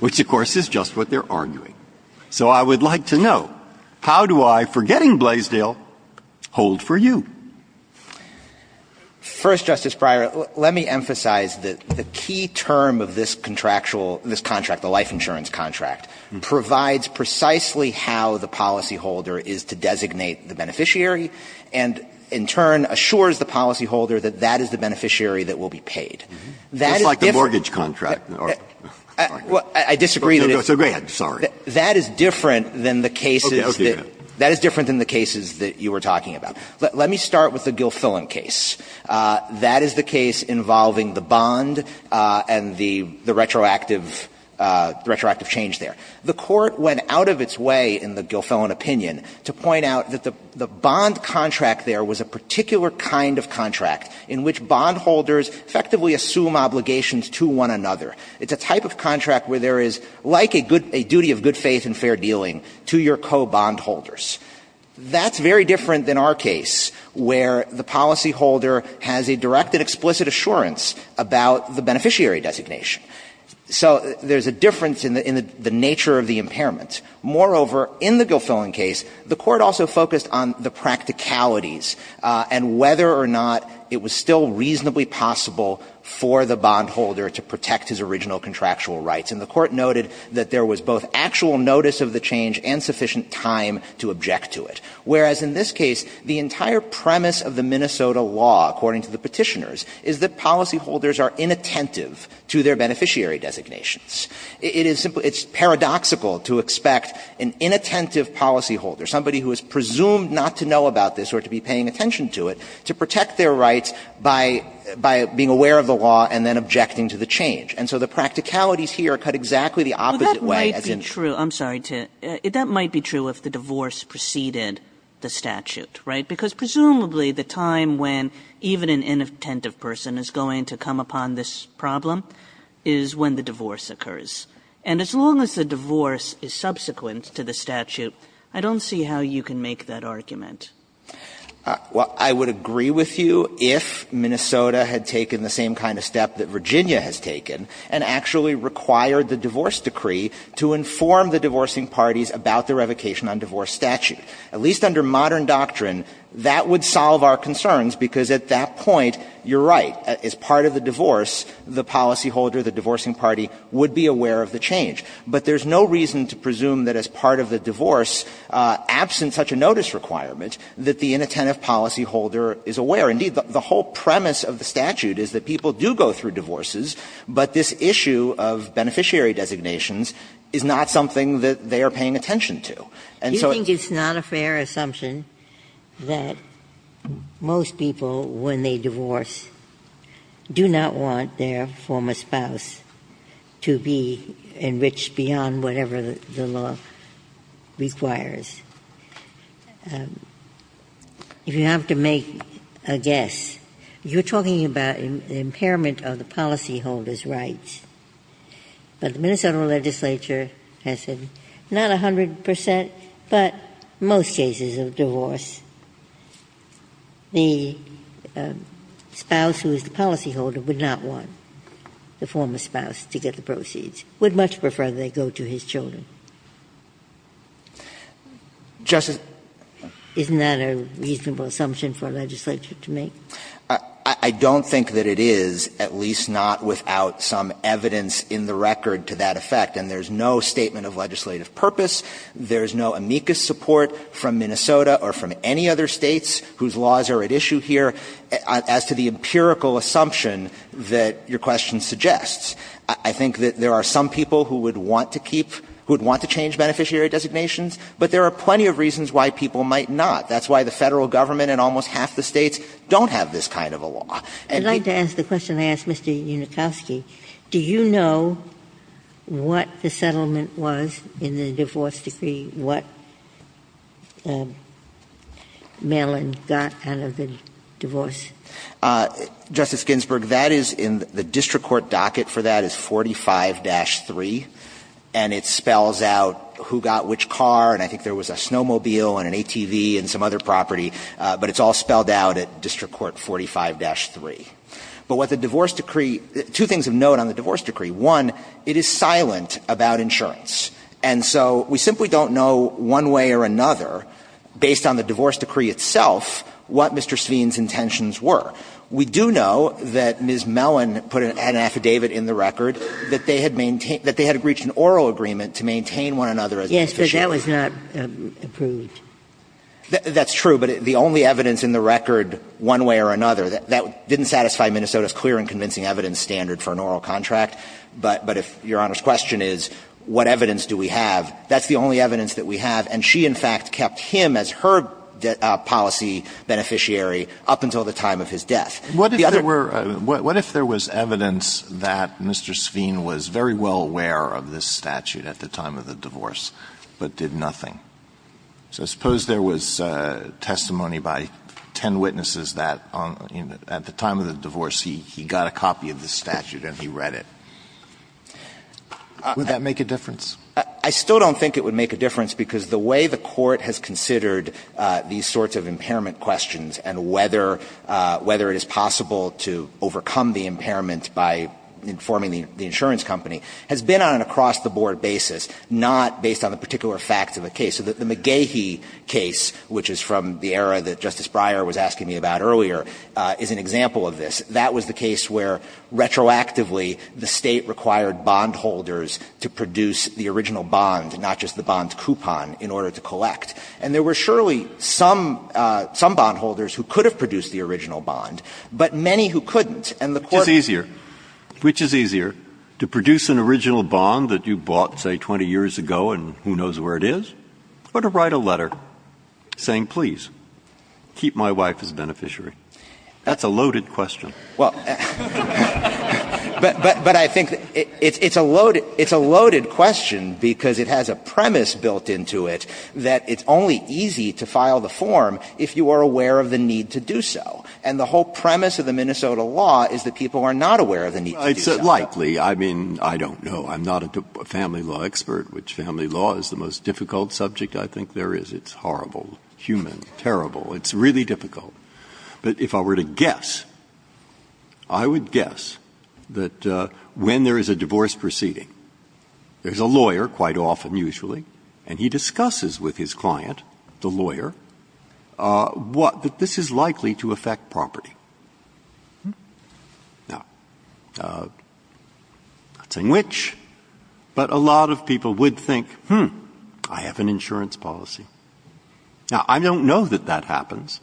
which, of course, is just what they're arguing. So I would like to know, how do I, forgetting Blaisdell, hold for you? First, Justice Breyer, let me emphasize that the key term of this contractual ‑‑ this contract, the life insurance contract, provides precisely how the policy holder is to designate the beneficiary and in turn assures the policy holder that that is the beneficiary that will be paid. That is different. Breyer, just like the mortgage contract. I disagree that it's ‑‑ So go ahead, sorry. That is different than the cases that you were talking about. Let me start with the Gilfillan case. That is the case involving the bond and the retroactive change there. The court went out of its way in the Gilfillan opinion to point out that the bond contract there was a particular kind of contract in which bondholders effectively assume obligations to one another. It's a type of contract where there is, like a duty of good faith and fair dealing, to your co‑bondholders. That's very different than our case, where the policy holder has a direct and explicit assurance about the beneficiary designation. So there's a difference in the nature of the impairment. Moreover, in the Gilfillan case, the court also focused on the practicalities and whether or not it was still reasonably possible for the bondholder to protect his original contractual rights. And the court noted that there was both actual notice of the change and sufficient time to object to it. Whereas in this case, the entire premise of the Minnesota law, according to the Petitioners, is that policyholders are inattentive to their beneficiary designations. It is simply ‑‑ it's paradoxical to expect an inattentive policyholder, somebody who is presumed not to know about this or to be paying attention to it, to protect their rights by being aware of the law and then objecting to the change. And so the practicalities here cut exactly the opposite way as in ‑‑ Kagan. Kagan. I'm sorry, to ‑‑ that might be true if the divorce preceded the statute, right? Because presumably the time when even an inattentive person is going to come upon this problem is when the divorce occurs. And as long as the divorce is subsequent to the statute, I don't see how you can make that argument. Well, I would agree with you if Minnesota had taken the same kind of step that Virginia has taken and actually required the divorce decree to inform the divorcing parties about the revocation on divorce statute. At least under modern doctrine, that would solve our concerns, because at that point, you're right. As part of the divorce, the policyholder, the divorcing party, would be aware of the change. But there's no reason to presume that as part of the divorce, absent such a notice requirement, that the inattentive policyholder is aware. Indeed, the whole premise of the statute is that people do go through divorces, but this issue of beneficiary designations is not something that they are paying attention to. And so ‑‑ Ginsburg's fair assumption that most people, when they divorce, do not want their former spouse to be enriched beyond whatever the law requires. If you have to make a guess, you're talking about impairment of the policyholder's rights. But the Minnesota legislature has said not 100 percent, but most cases of divorce, the spouse who is the policyholder would not want the former spouse to get the proceeds, would much prefer they go to his children. Justice ‑‑ Isn't that a reasonable assumption for a legislature to make? I don't think that it is, at least not without some evidence in the record to that effect. And there's no statement of legislative purpose. There's no amicus support from Minnesota or from any other States whose laws are at issue here as to the empirical assumption that your question suggests. I think that there are some people who would want to keep ‑‑ who would want to change beneficiary designations, but there are plenty of reasons why people might not. That's why the Federal Government and almost half the States don't have this kind of a law. And ‑‑ I'd like to ask the question I asked Mr. Unikowsky. Do you know what the settlement was in the divorce decree, what Maryland got out of the divorce? Justice Ginsburg, that is in the district court docket for that is 45-3, and it spells out who got which car, and I think there was a snowmobile and an ATV and some other property, but it's all spelled out at district court 45-3. But what the divorce decree ‑‑ two things of note on the divorce decree. One, it is silent about insurance. And so we simply don't know one way or another, based on the divorce decree itself, what Mr. Sveen's intentions were. We do know that Ms. Mellon put an affidavit in the record that they had maintained ‑‑ that they had reached an oral agreement to maintain one another as beneficiaries. Yes, but that was not approved. That's true, but the only evidence in the record one way or another, that didn't satisfy Minnesota's clear and convincing evidence standard for an oral contract, but if Your Honor's question is what evidence do we have, that's the only evidence that we have, and she in fact kept him as her policy beneficiary up until the time of his death. Alitoson What if there were ‑‑ what if there was evidence that Mr. Sveen was very well aware of this statute at the time of the divorce, but did nothing? So suppose there was testimony by ten witnesses that at the time of the divorce he got a copy of the statute and he read it. Would that make a difference? I still don't think it would make a difference, because the way the Court has considered these sorts of impairment questions and whether ‑‑ whether it is possible to overcome the impairment by informing the insurance company has been on an across‑the‑board basis, not based on the particular facts of the case. So the McGehee case, which is from the era that Justice Breyer was asking me about earlier, is an example of this. That was the case where retroactively the State required bondholders to produce the original bond, not just the bond coupon, in order to collect. And there were surely some ‑‑ some bondholders who could have produced the original bond, but many who couldn't. And the Court ‑‑ Breyer Which is easier, which is easier, to produce an original bond that you bought, say, 20 years ago and who knows where it is, or to write a letter saying, please, keep my wife as a beneficiary? That's a loaded question. Alitoson Well, but I think it's a loaded ‑‑ it's a loaded question because it has a premise built into it that it's only easy to file the form if you are aware of the need to do so. And the whole premise of the Minnesota law is that people are not aware of the need to do so. Breyer It's likely. I mean, I don't know. I'm not a family law expert, which family law is the most difficult subject I think there is. It's horrible, human, terrible. It's really difficult. But if I were to guess, I would guess that when there is a divorce proceeding, there is a lawyer quite often, usually, and he discusses with his client, the lawyer, what ‑‑ that this is likely to affect property. Now, I'm not saying which, but a lot of people would think, hmm, I have an insurance policy. Now, I don't know that that happens,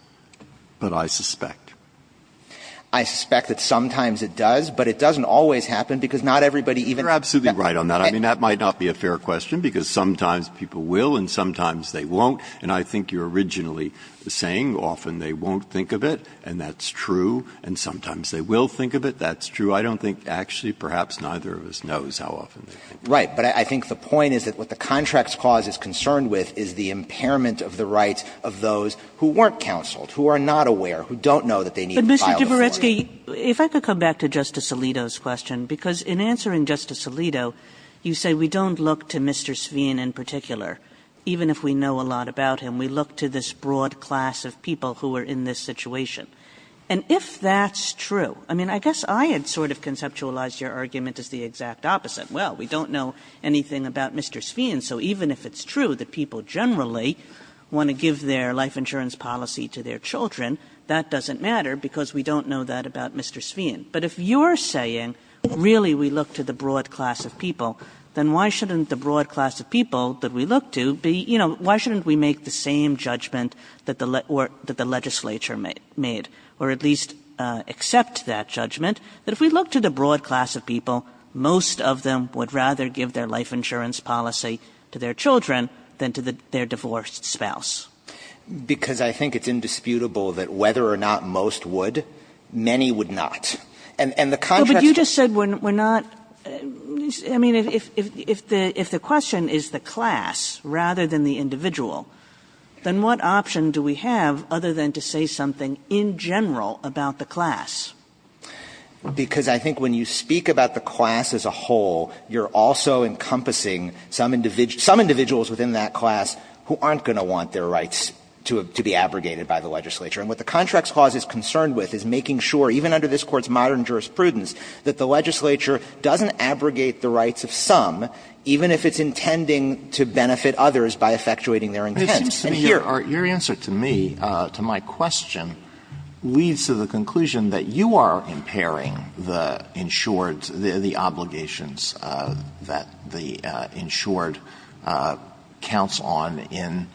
but I suspect. Alitoson I suspect that sometimes it does, but it doesn't always happen because not everybody even ‑‑ Breyer You are absolutely right on that. I mean, that might not be a fair question because sometimes people will and sometimes they won't. And I think you are originally saying often they won't think of it, and that's true, and sometimes they will think of it. That's true. I don't think actually perhaps neither of us knows how often they will. Dabney Right. But I think the point is that what the Contracts Clause is concerned with is the impairment of the rights of those who weren't counseled, who are not aware, who don't know that they need to file the form. Kagan If I could come back to Justice Alito's question, because in answering Justice Alito, you say we don't look to Mr. Sveen in particular, even if we know a lot about him. We look to this broad class of people who are in this situation. And if that's true, I mean, I guess I had sort of conceptualized your argument as the exact opposite. Well, we don't know anything about Mr. Sveen, so even if it's true that people generally want to give their life insurance policy to their children, that doesn't matter because we don't know that about Mr. Sveen. But if you're saying really we look to the broad class of people, then why shouldn't the broad class of people that we look to be, you know, why shouldn't we make the same judgment that the legislature made, or at least accept that judgment, that if we look to the broad class of people, most of them would rather give their life insurance policy to their children than to their divorced spouse? Because I think it's indisputable that whether or not most would, many would not. And the contrast to the question of the broad class of people, I mean, if the question is the class rather than the individual, then what option do we have other than to say something in general about the class? Because I think when you speak about the class as a whole, you're also encompassing some individuals within that class who aren't going to want their rights to be abrogated by the legislature. And what the Contracts Clause is concerned with is making sure, even under this Court's modern jurisprudence, that the legislature doesn't abrogate the rights of some, even if it's intending to benefit others by effectuating their intent. And here are the other options. Alitoso, your answer to me, to my question, leads to the conclusion that you are impairing the insured, the obligations that the insured counts on in,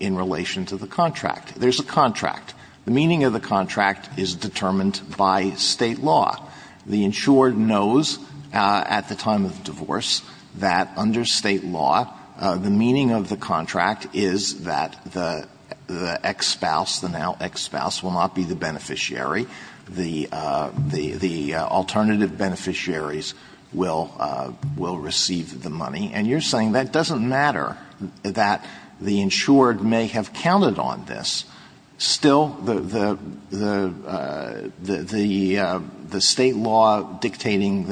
in relation to the contract. There's a contract. The meaning of the contract is determined by State law. The insured knows at the time of divorce that under State law, the meaning of the contract is that the ex-spouse, the now ex-spouse, will not be the beneficiary. The alternative beneficiaries will receive the money. And you're saying that doesn't matter, that the insured may have counted on this. Still, the State law dictating,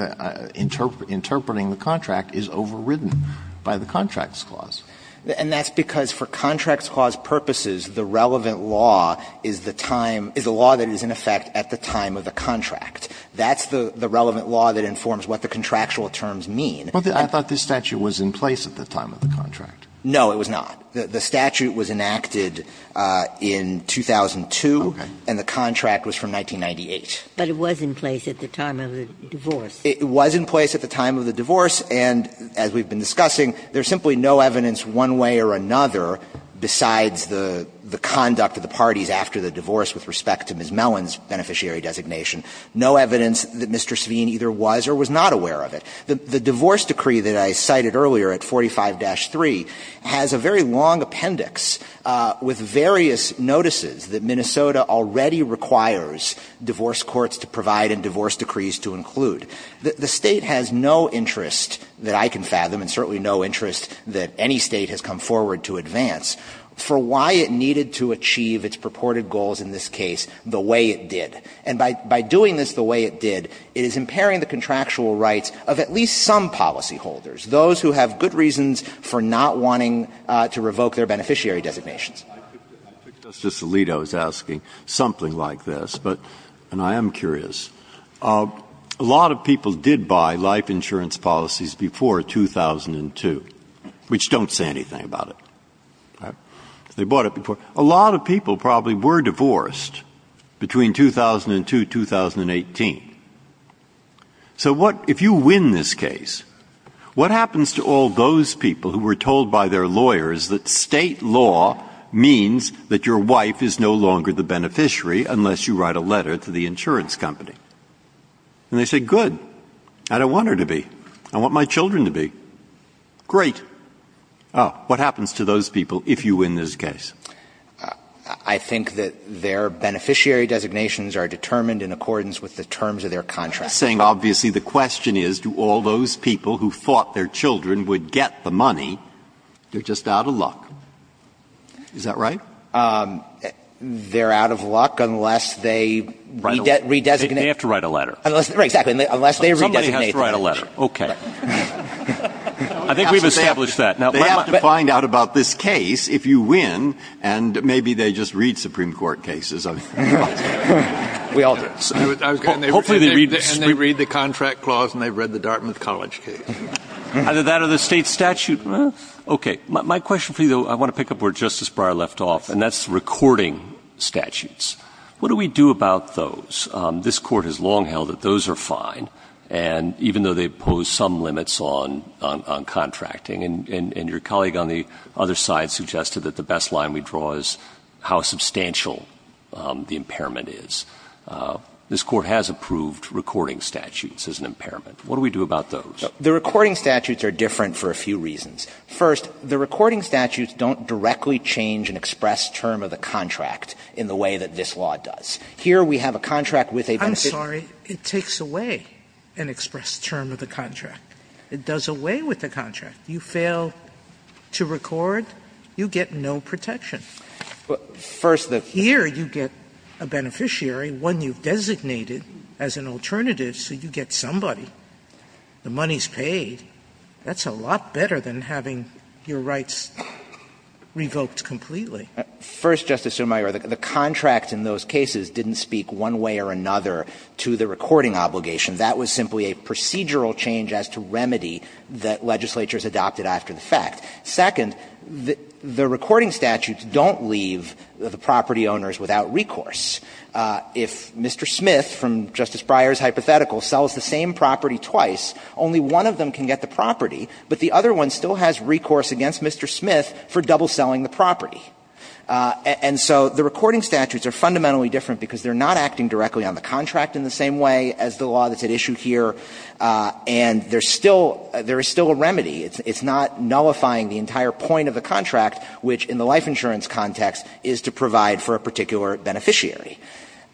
interpreting the contract is overridden by the Contracts Clause. And that's because for Contracts Clause purposes, the relevant law is the time, is the law that is in effect at the time of the contract. That's the relevant law that informs what the contractual terms mean. But I thought this statute was in place at the time of the contract. No, it was not. The statute was enacted in 2002 and the contract was from 1998. But it was in place at the time of the divorce. It was in place at the time of the divorce, and as we've been discussing, there's simply no evidence one way or another besides the conduct of the parties after the divorce, with respect to Ms. Mellon's beneficiary designation, no evidence that Mr. Sveen either was or was not aware of it. The divorce decree that I cited earlier at 45-3 has a very long appendix with various notices that Minnesota already requires divorce courts to provide and divorce decrees to include. The State has no interest that I can fathom and certainly no interest that any State has come forward to advance for why it needed to achieve its purported goals in this case the way it did. And by doing this the way it did, it is impairing the contractual rights of at least some policyholders, those who have good reasons for not wanting to revoke their beneficiary designations. I took Justice Alito's asking something like this, and I am curious. A lot of people did buy life insurance policies before 2002, which don't say anything about it. They bought it before. A lot of people probably were divorced between 2002 and 2018. So if you win this case, what happens to all those people who were told by their lawyers that State law means that your wife is no longer the beneficiary unless you write a letter to the insurance company? And they say, good. I don't want her to be. I want my children to be. Great. Oh, what happens to those people if you win this case? I think that their beneficiary designations are determined in accordance with the terms of their contract. You're saying, obviously, the question is, do all those people who thought their children would get the money, they're just out of luck. Is that right? They're out of luck unless they redesignate. They have to write a letter. Right, exactly. Unless they redesignate the insurance. Somebody has to write a letter. Okay. I think we've established that. They have to find out about this case if you win, and maybe they just read Supreme Court cases. We all do. And they read the contract clause, and they've read the Dartmouth College case. Either that or the State statute. Okay. My question for you, though, I want to pick up where Justice Breyer left off, and that's recording statutes. What do we do about those? This Court has long held that those are fine. And even though they pose some limits on contracting, and your colleague on the other side suggested that the best line we draw is how substantial the impairment is, this Court has approved recording statutes as an impairment. What do we do about those? The recording statutes are different for a few reasons. First, the recording statutes don't directly change an express term of the contract in the way that this law does. Here we have a contract with a benefit. I'm sorry. It takes away. An express term of the contract. It does away with the contract. You fail to record, you get no protection. Here you get a beneficiary, one you've designated as an alternative, so you get somebody. The money's paid. That's a lot better than having your rights revoked completely. First, Justice Sotomayor, the contract in those cases didn't speak one way or another to the recording obligation. That was simply a procedural change as to remedy that legislatures adopted after the fact. Second, the recording statutes don't leave the property owners without recourse. If Mr. Smith, from Justice Breyer's hypothetical, sells the same property twice, only one of them can get the property, but the other one still has recourse against Mr. Smith for double-selling the property. And so the recording statutes are fundamentally different because they're not acting directly on the contract in the same way as the law that's at issue here. And there's still — there is still a remedy. It's not nullifying the entire point of the contract, which in the life insurance context is to provide for a particular beneficiary.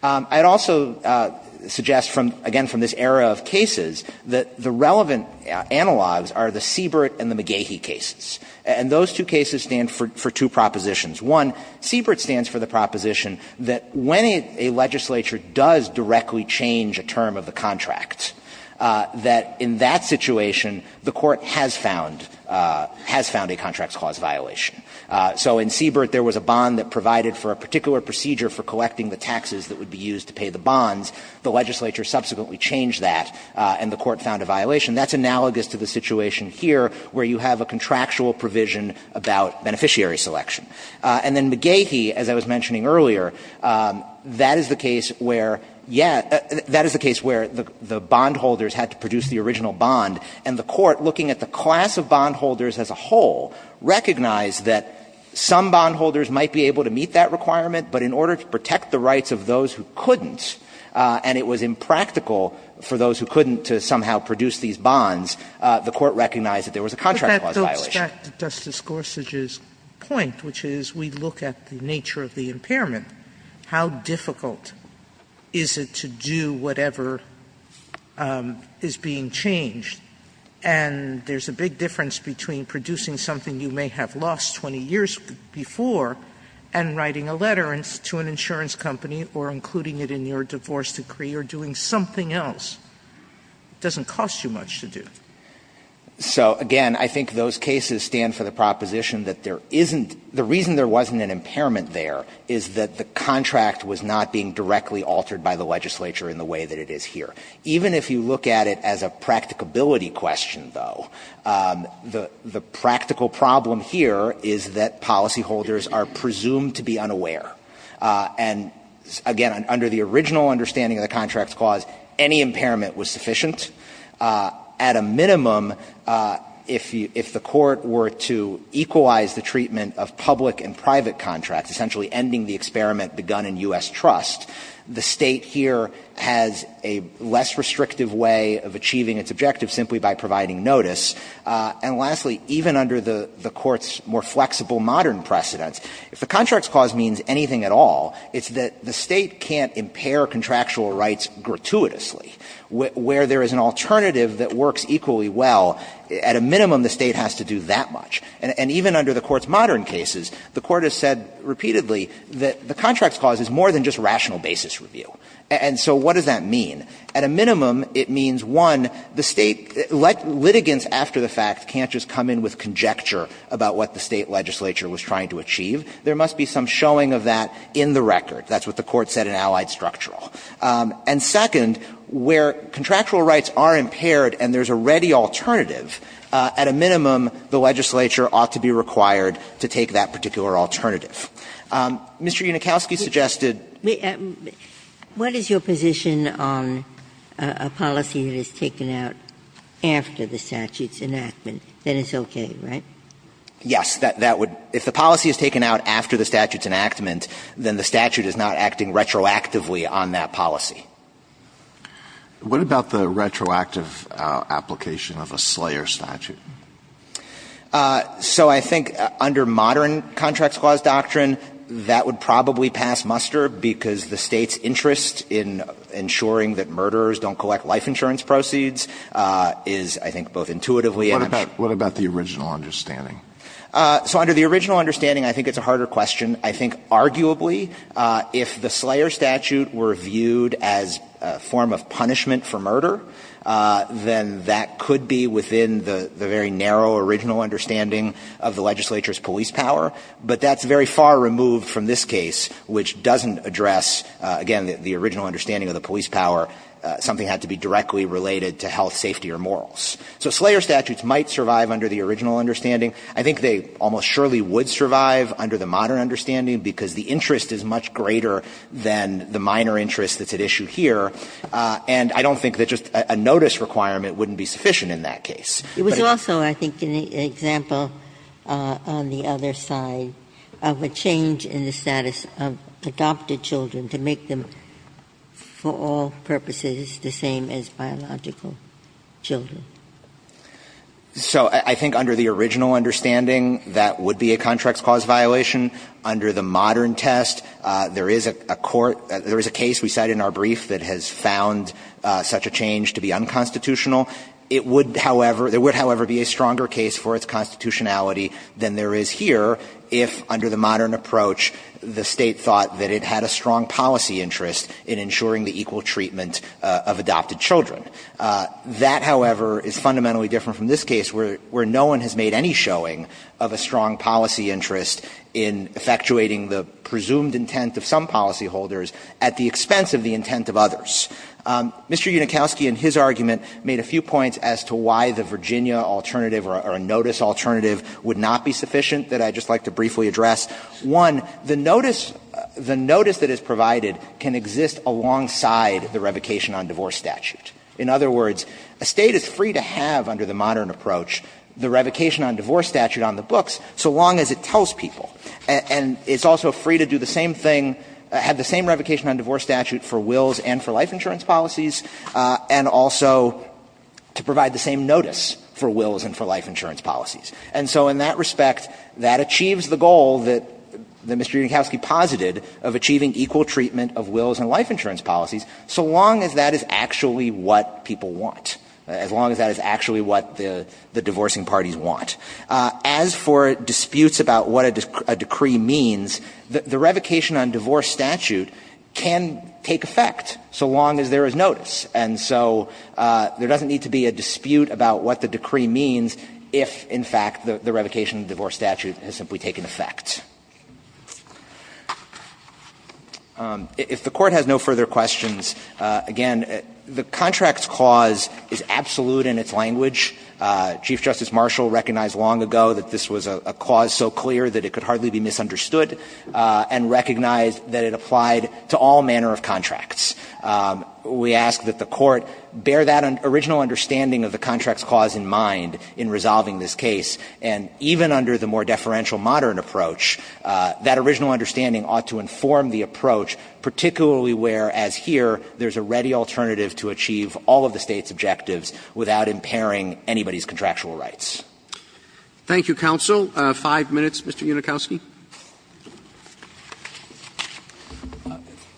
I'd also suggest, again, from this era of cases, that the relevant analogs are the Seabrood and the McGehee cases. And those two cases stand for two propositions. One, Seabrood stands for the proposition that when a legislature does directly change a term of the contract, that in that situation the Court has found — has found a contracts clause violation. So in Seabrood, there was a bond that provided for a particular procedure for collecting the taxes that would be used to pay the bonds. The legislature subsequently changed that, and the Court found a violation. That's analogous to the situation here where you have a contractual provision about beneficiary selection. And then McGehee, as I was mentioning earlier, that is the case where — yeah, that is the case where the bondholders had to produce the original bond, and the Court, looking at the class of bondholders as a whole, recognized that some bondholders might be able to meet that requirement, but in order to protect the rights of those who couldn't, and it was impractical for those who couldn't to somehow produce these bonds, the Court recognized that there was a contract clause violation. Sotomayor, I think that Justice Gorsuch's point, which is, we look at the nature of the impairment, how difficult is it to do whatever is being changed? And there's a big difference between producing something you may have lost 20 years before and writing a letter to an insurance company or including it in your divorce decree or doing something else. It doesn't cost you much to do. So, again, I think those cases stand for the proposition that there isn't — the reason there wasn't an impairment there is that the contract was not being directly altered by the legislature in the way that it is here. Even if you look at it as a practicability question, though, the practical problem here is that policyholders are presumed to be unaware. And, again, under the original understanding of the contract clause, any impairment was sufficient. At a minimum, if the Court were to equalize the treatment of public and private contracts, essentially ending the experiment begun in U.S. trust, the State here has a less restrictive way of achieving its objective simply by providing notice. And lastly, even under the Court's more flexible modern precedents, if the contract clause means anything at all, it's that the State can't impair contractual rights gratuitously. Where there is an alternative that works equally well, at a minimum the State has to do that much. And even under the Court's modern cases, the Court has said repeatedly that the contract clause is more than just rational basis review. And so what does that mean? At a minimum, it means, one, the State — litigants after the fact can't just come in with conjecture about what the State legislature was trying to achieve. There must be some showing of that in the record. That's what the Court said in Allied Structural. And second, where contractual rights are impaired and there's a ready alternative, at a minimum the legislature ought to be required to take that particular alternative. Mr. Unikowsky suggested — Ginsburg. What is your position on a policy that is taken out after the statute's enactment? Then it's okay, right? Yes. That would — if the policy is taken out after the statute's enactment, then the statute is not acting retroactively on that policy. What about the retroactive application of a Slayer statute? So I think under modern contract clause doctrine, that would probably pass muster, because the State's interest in ensuring that murderers don't collect life insurance proceeds is, I think, both intuitively and — What about — what about the original understanding? So under the original understanding, I think it's a harder question. I think arguably, if the Slayer statute were viewed as a form of punishment for murder, then that could be within the very narrow original understanding of the legislature's police power. But that's very far removed from this case, which doesn't address, again, the original understanding of the police power. Something had to be directly related to health, safety, or morals. So Slayer statutes might survive under the original understanding. I think they almost surely would survive under the modern understanding, because the interest is much greater than the minor interest that's at issue here. And I don't think that just a notice requirement wouldn't be sufficient in that case. But it's also, I think, an example on the other side of a change in the status of adopted children to make them, for all purposes, the same as biological children. So I think under the original understanding, that would be a contracts cause violation. Under the modern test, there is a court — there is a case we cite in our brief that has found such a change to be unconstitutional. It would, however — there would, however, be a stronger case for its constitutionality than there is here if, under the modern approach, the State thought that it had a strong policy interest in ensuring the equal treatment of adopted children. That, however, is fundamentally different from this case, where no one has made any showing of a strong policy interest in effectuating the presumed intent of some policyholders at the expense of the intent of others. Mr. Unikowsky, in his argument, made a few points as to why the Virginia alternative or a notice alternative would not be sufficient that I'd just like to briefly address. One, the notice — the notice that is provided can exist alongside the revocation on divorce statute. In other words, a State is free to have, under the modern approach, the revocation on divorce statute on the books so long as it tells people. And it's also free to do the same thing — have the same revocation on divorce statute for wills and for life insurance policies, and also to provide the same notice for wills and for life insurance policies. And so in that respect, that achieves the goal that Mr. Unikowsky posited of achieving equal treatment of wills and life insurance policies so long as that is actually what people want, as long as that is actually what the divorcing parties want. As for disputes about what a decree means, the revocation on divorce statute can take effect so long as there is notice. And so there doesn't need to be a dispute about what the decree means if, in fact, the revocation of divorce statute has simply taken effect. If the Court has no further questions, again, the contradiction is that the court The Contracts Clause is absolute in its language. Chief Justice Marshall recognized long ago that this was a clause so clear that it could hardly be misunderstood, and recognized that it applied to all manner of contracts. We ask that the Court bear that original understanding of the Contracts Clause in mind in resolving this case. And even under the more deferential modern approach, that original understanding ought to inform the approach, particularly where, as here, there's a ready alternative to achieve all of the State's objectives without impairing anybody's contractual rights. Roberts. Thank you, counsel. Five minutes, Mr. Unikowsky. Unikowsky.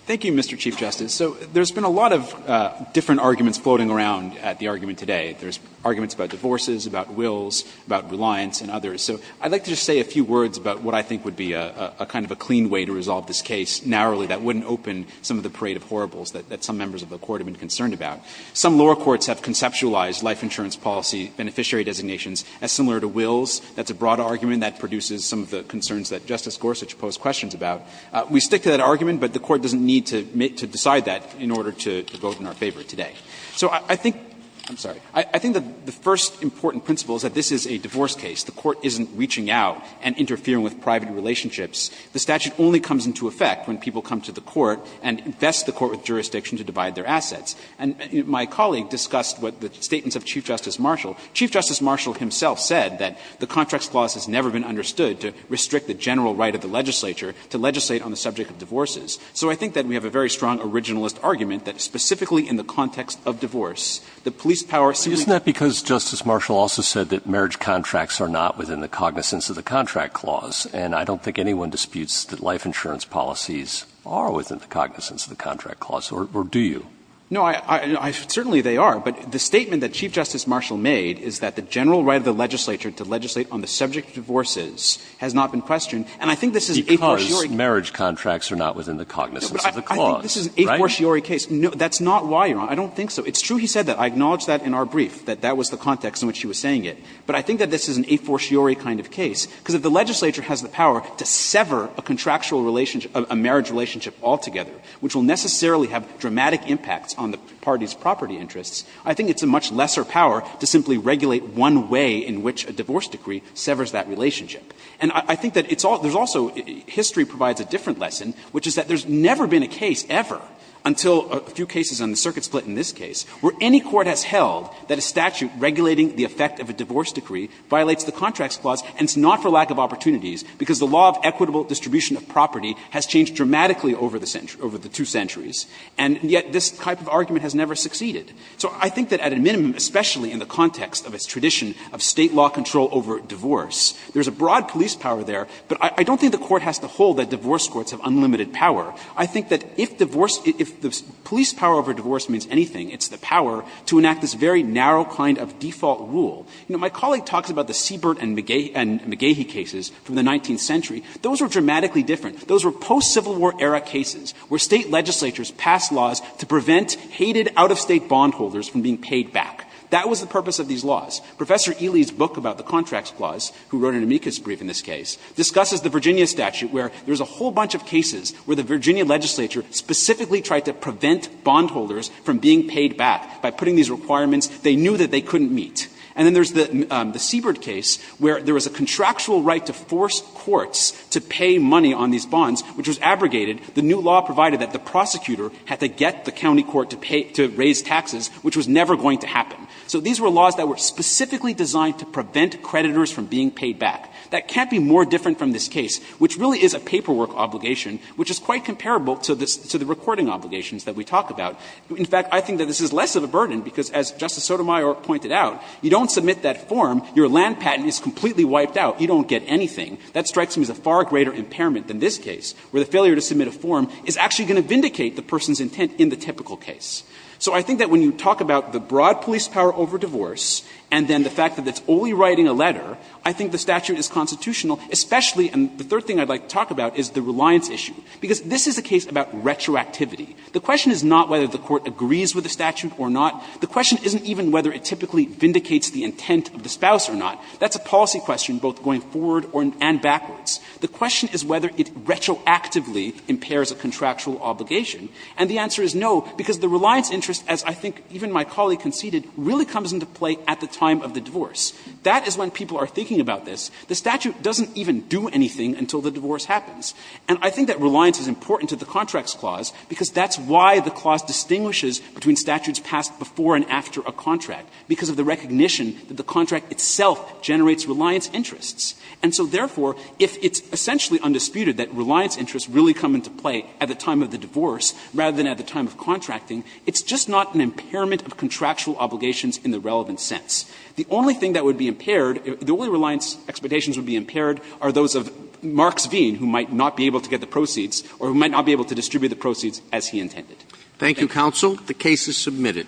Thank you, Mr. Chief Justice. So there's been a lot of different arguments floating around at the argument today. There's arguments about divorces, about wills, about reliance, and others. So I'd like to just say a few words about what I think would be a kind of a clean way to resolve this case narrowly that wouldn't open some of the parade of horribles that some members of the Court have been concerned about. Some lower courts have conceptualized life insurance policy beneficiary designations as similar to wills. That's a broad argument that produces some of the concerns that Justice Gorsuch posed questions about. We stick to that argument, but the Court doesn't need to decide that in order to vote in our favor today. So I think the first important principle is that this is a divorce case. The Court isn't reaching out and interfering with private relationships. The statute only comes into effect when people come to the Court and invest the Court with jurisdiction to divide their assets. And my colleague discussed what the statements of Chief Justice Marshall. Chief Justice Marshall himself said that the contracts clause has never been understood to restrict the general right of the legislature to legislate on the subject of divorces. So I think that we have a very strong originalist argument that specifically in the context of divorce, the police power simply — Isn't that because Justice Marshall also said that marriage contracts are not within the cognizance of the contract clause? And I don't think anyone disputes that life insurance policies are within the cognizance of the contract clause, or do you? No, I — certainly they are. But the statement that Chief Justice Marshall made is that the general right of the legislature to legislate on the subject of divorces has not been questioned. And I think this is an a-for-siori case. Because marriage contracts are not within the cognizance of the clause, right? I think this is an a-for-siori case. That's not why you're on. I don't think so. It's true he said that. I acknowledge that in our brief, that that was the context in which he was saying it. But I think that this is an a-for-siori kind of case, because if the legislature has the power to sever a contractual relationship, a marriage relationship altogether, which will necessarily have dramatic impacts on the party's property interests, I think it's a much lesser power to simply regulate one way in which a divorce decree severs that relationship. And I think that it's all — there's also — history provides a different lesson, which is that there's never been a case, ever, until a few cases on the circuit split in this case, where any court has held that a statute regulating the effect of a divorce decree violates the contracts clause, and it's not for lack of opportunities, because the law of equitable distribution of property has changed dramatically over the two centuries, and yet this type of argument has never succeeded. So I think that at a minimum, especially in the context of its tradition of State law control over divorce, there's a broad police power there, but I don't think the Court has to hold that divorce courts have unlimited power. I think that if the police power over divorce means anything, it's the power to enact this very narrow kind of default rule. You know, my colleague talks about the Siebert and McGehee cases from the 19th century. Those were dramatically different. Those were post-Civil War era cases where State legislatures passed laws to prevent hated out-of-State bondholders from being paid back. That was the purpose of these laws. Professor Ely's book about the contracts clause, who wrote an amicus brief in this case, discusses the Virginia statute, where there's a whole bunch of cases where the Virginia legislature specifically tried to prevent bondholders from being paid back by putting these requirements they knew that they couldn't meet. And then there's the Siebert case, where there was a contractual right to force courts to pay money on these bonds, which was abrogated. The new law provided that the prosecutor had to get the county court to pay to raise taxes, which was never going to happen. So these were laws that were specifically designed to prevent creditors from being paid back. That can't be more different from this case, which really is a paperwork obligation, which is quite comparable to the recording obligations that we talk about. In fact, I think that this is less of a burden, because as Justice Sotomayor pointed out, you don't submit that form, your land patent is completely wiped out, you don't get anything. That strikes me as a far greater impairment than this case, where the failure to submit a form is actually going to vindicate the person's intent in the typical case. So I think that when you talk about the broad police power over divorce, and then the fact that it's only writing a letter, I think the statute is constitutional, especially the third thing I'd like to talk about is the reliance issue. Because this is a case about retroactivity. The question is not whether the Court agrees with the statute or not. The question isn't even whether it typically vindicates the intent of the spouse or not. That's a policy question, both going forward and backwards. The question is whether it retroactively impairs a contractual obligation. And the answer is no, because the reliance interest, as I think even my colleague conceded, really comes into play at the time of the divorce. That is when people are thinking about this. The statute doesn't even do anything until the divorce happens. And I think that reliance is important to the Contracts Clause, because that's why the clause distinguishes between statutes passed before and after a contract, because of the recognition that the contract itself generates reliance interests. And so, therefore, if it's essentially undisputed that reliance interests really come into play at the time of the divorce rather than at the time of contracting, it's just not an impairment of contractual obligations in the relevant sense. The only thing that would be impaired, the only reliance expectations would be impaired are those of Marks V, who might not be able to get the proceeds, or who might not be able to distribute the proceeds as he intended. Roberts. Thank you, counsel. The case is submitted.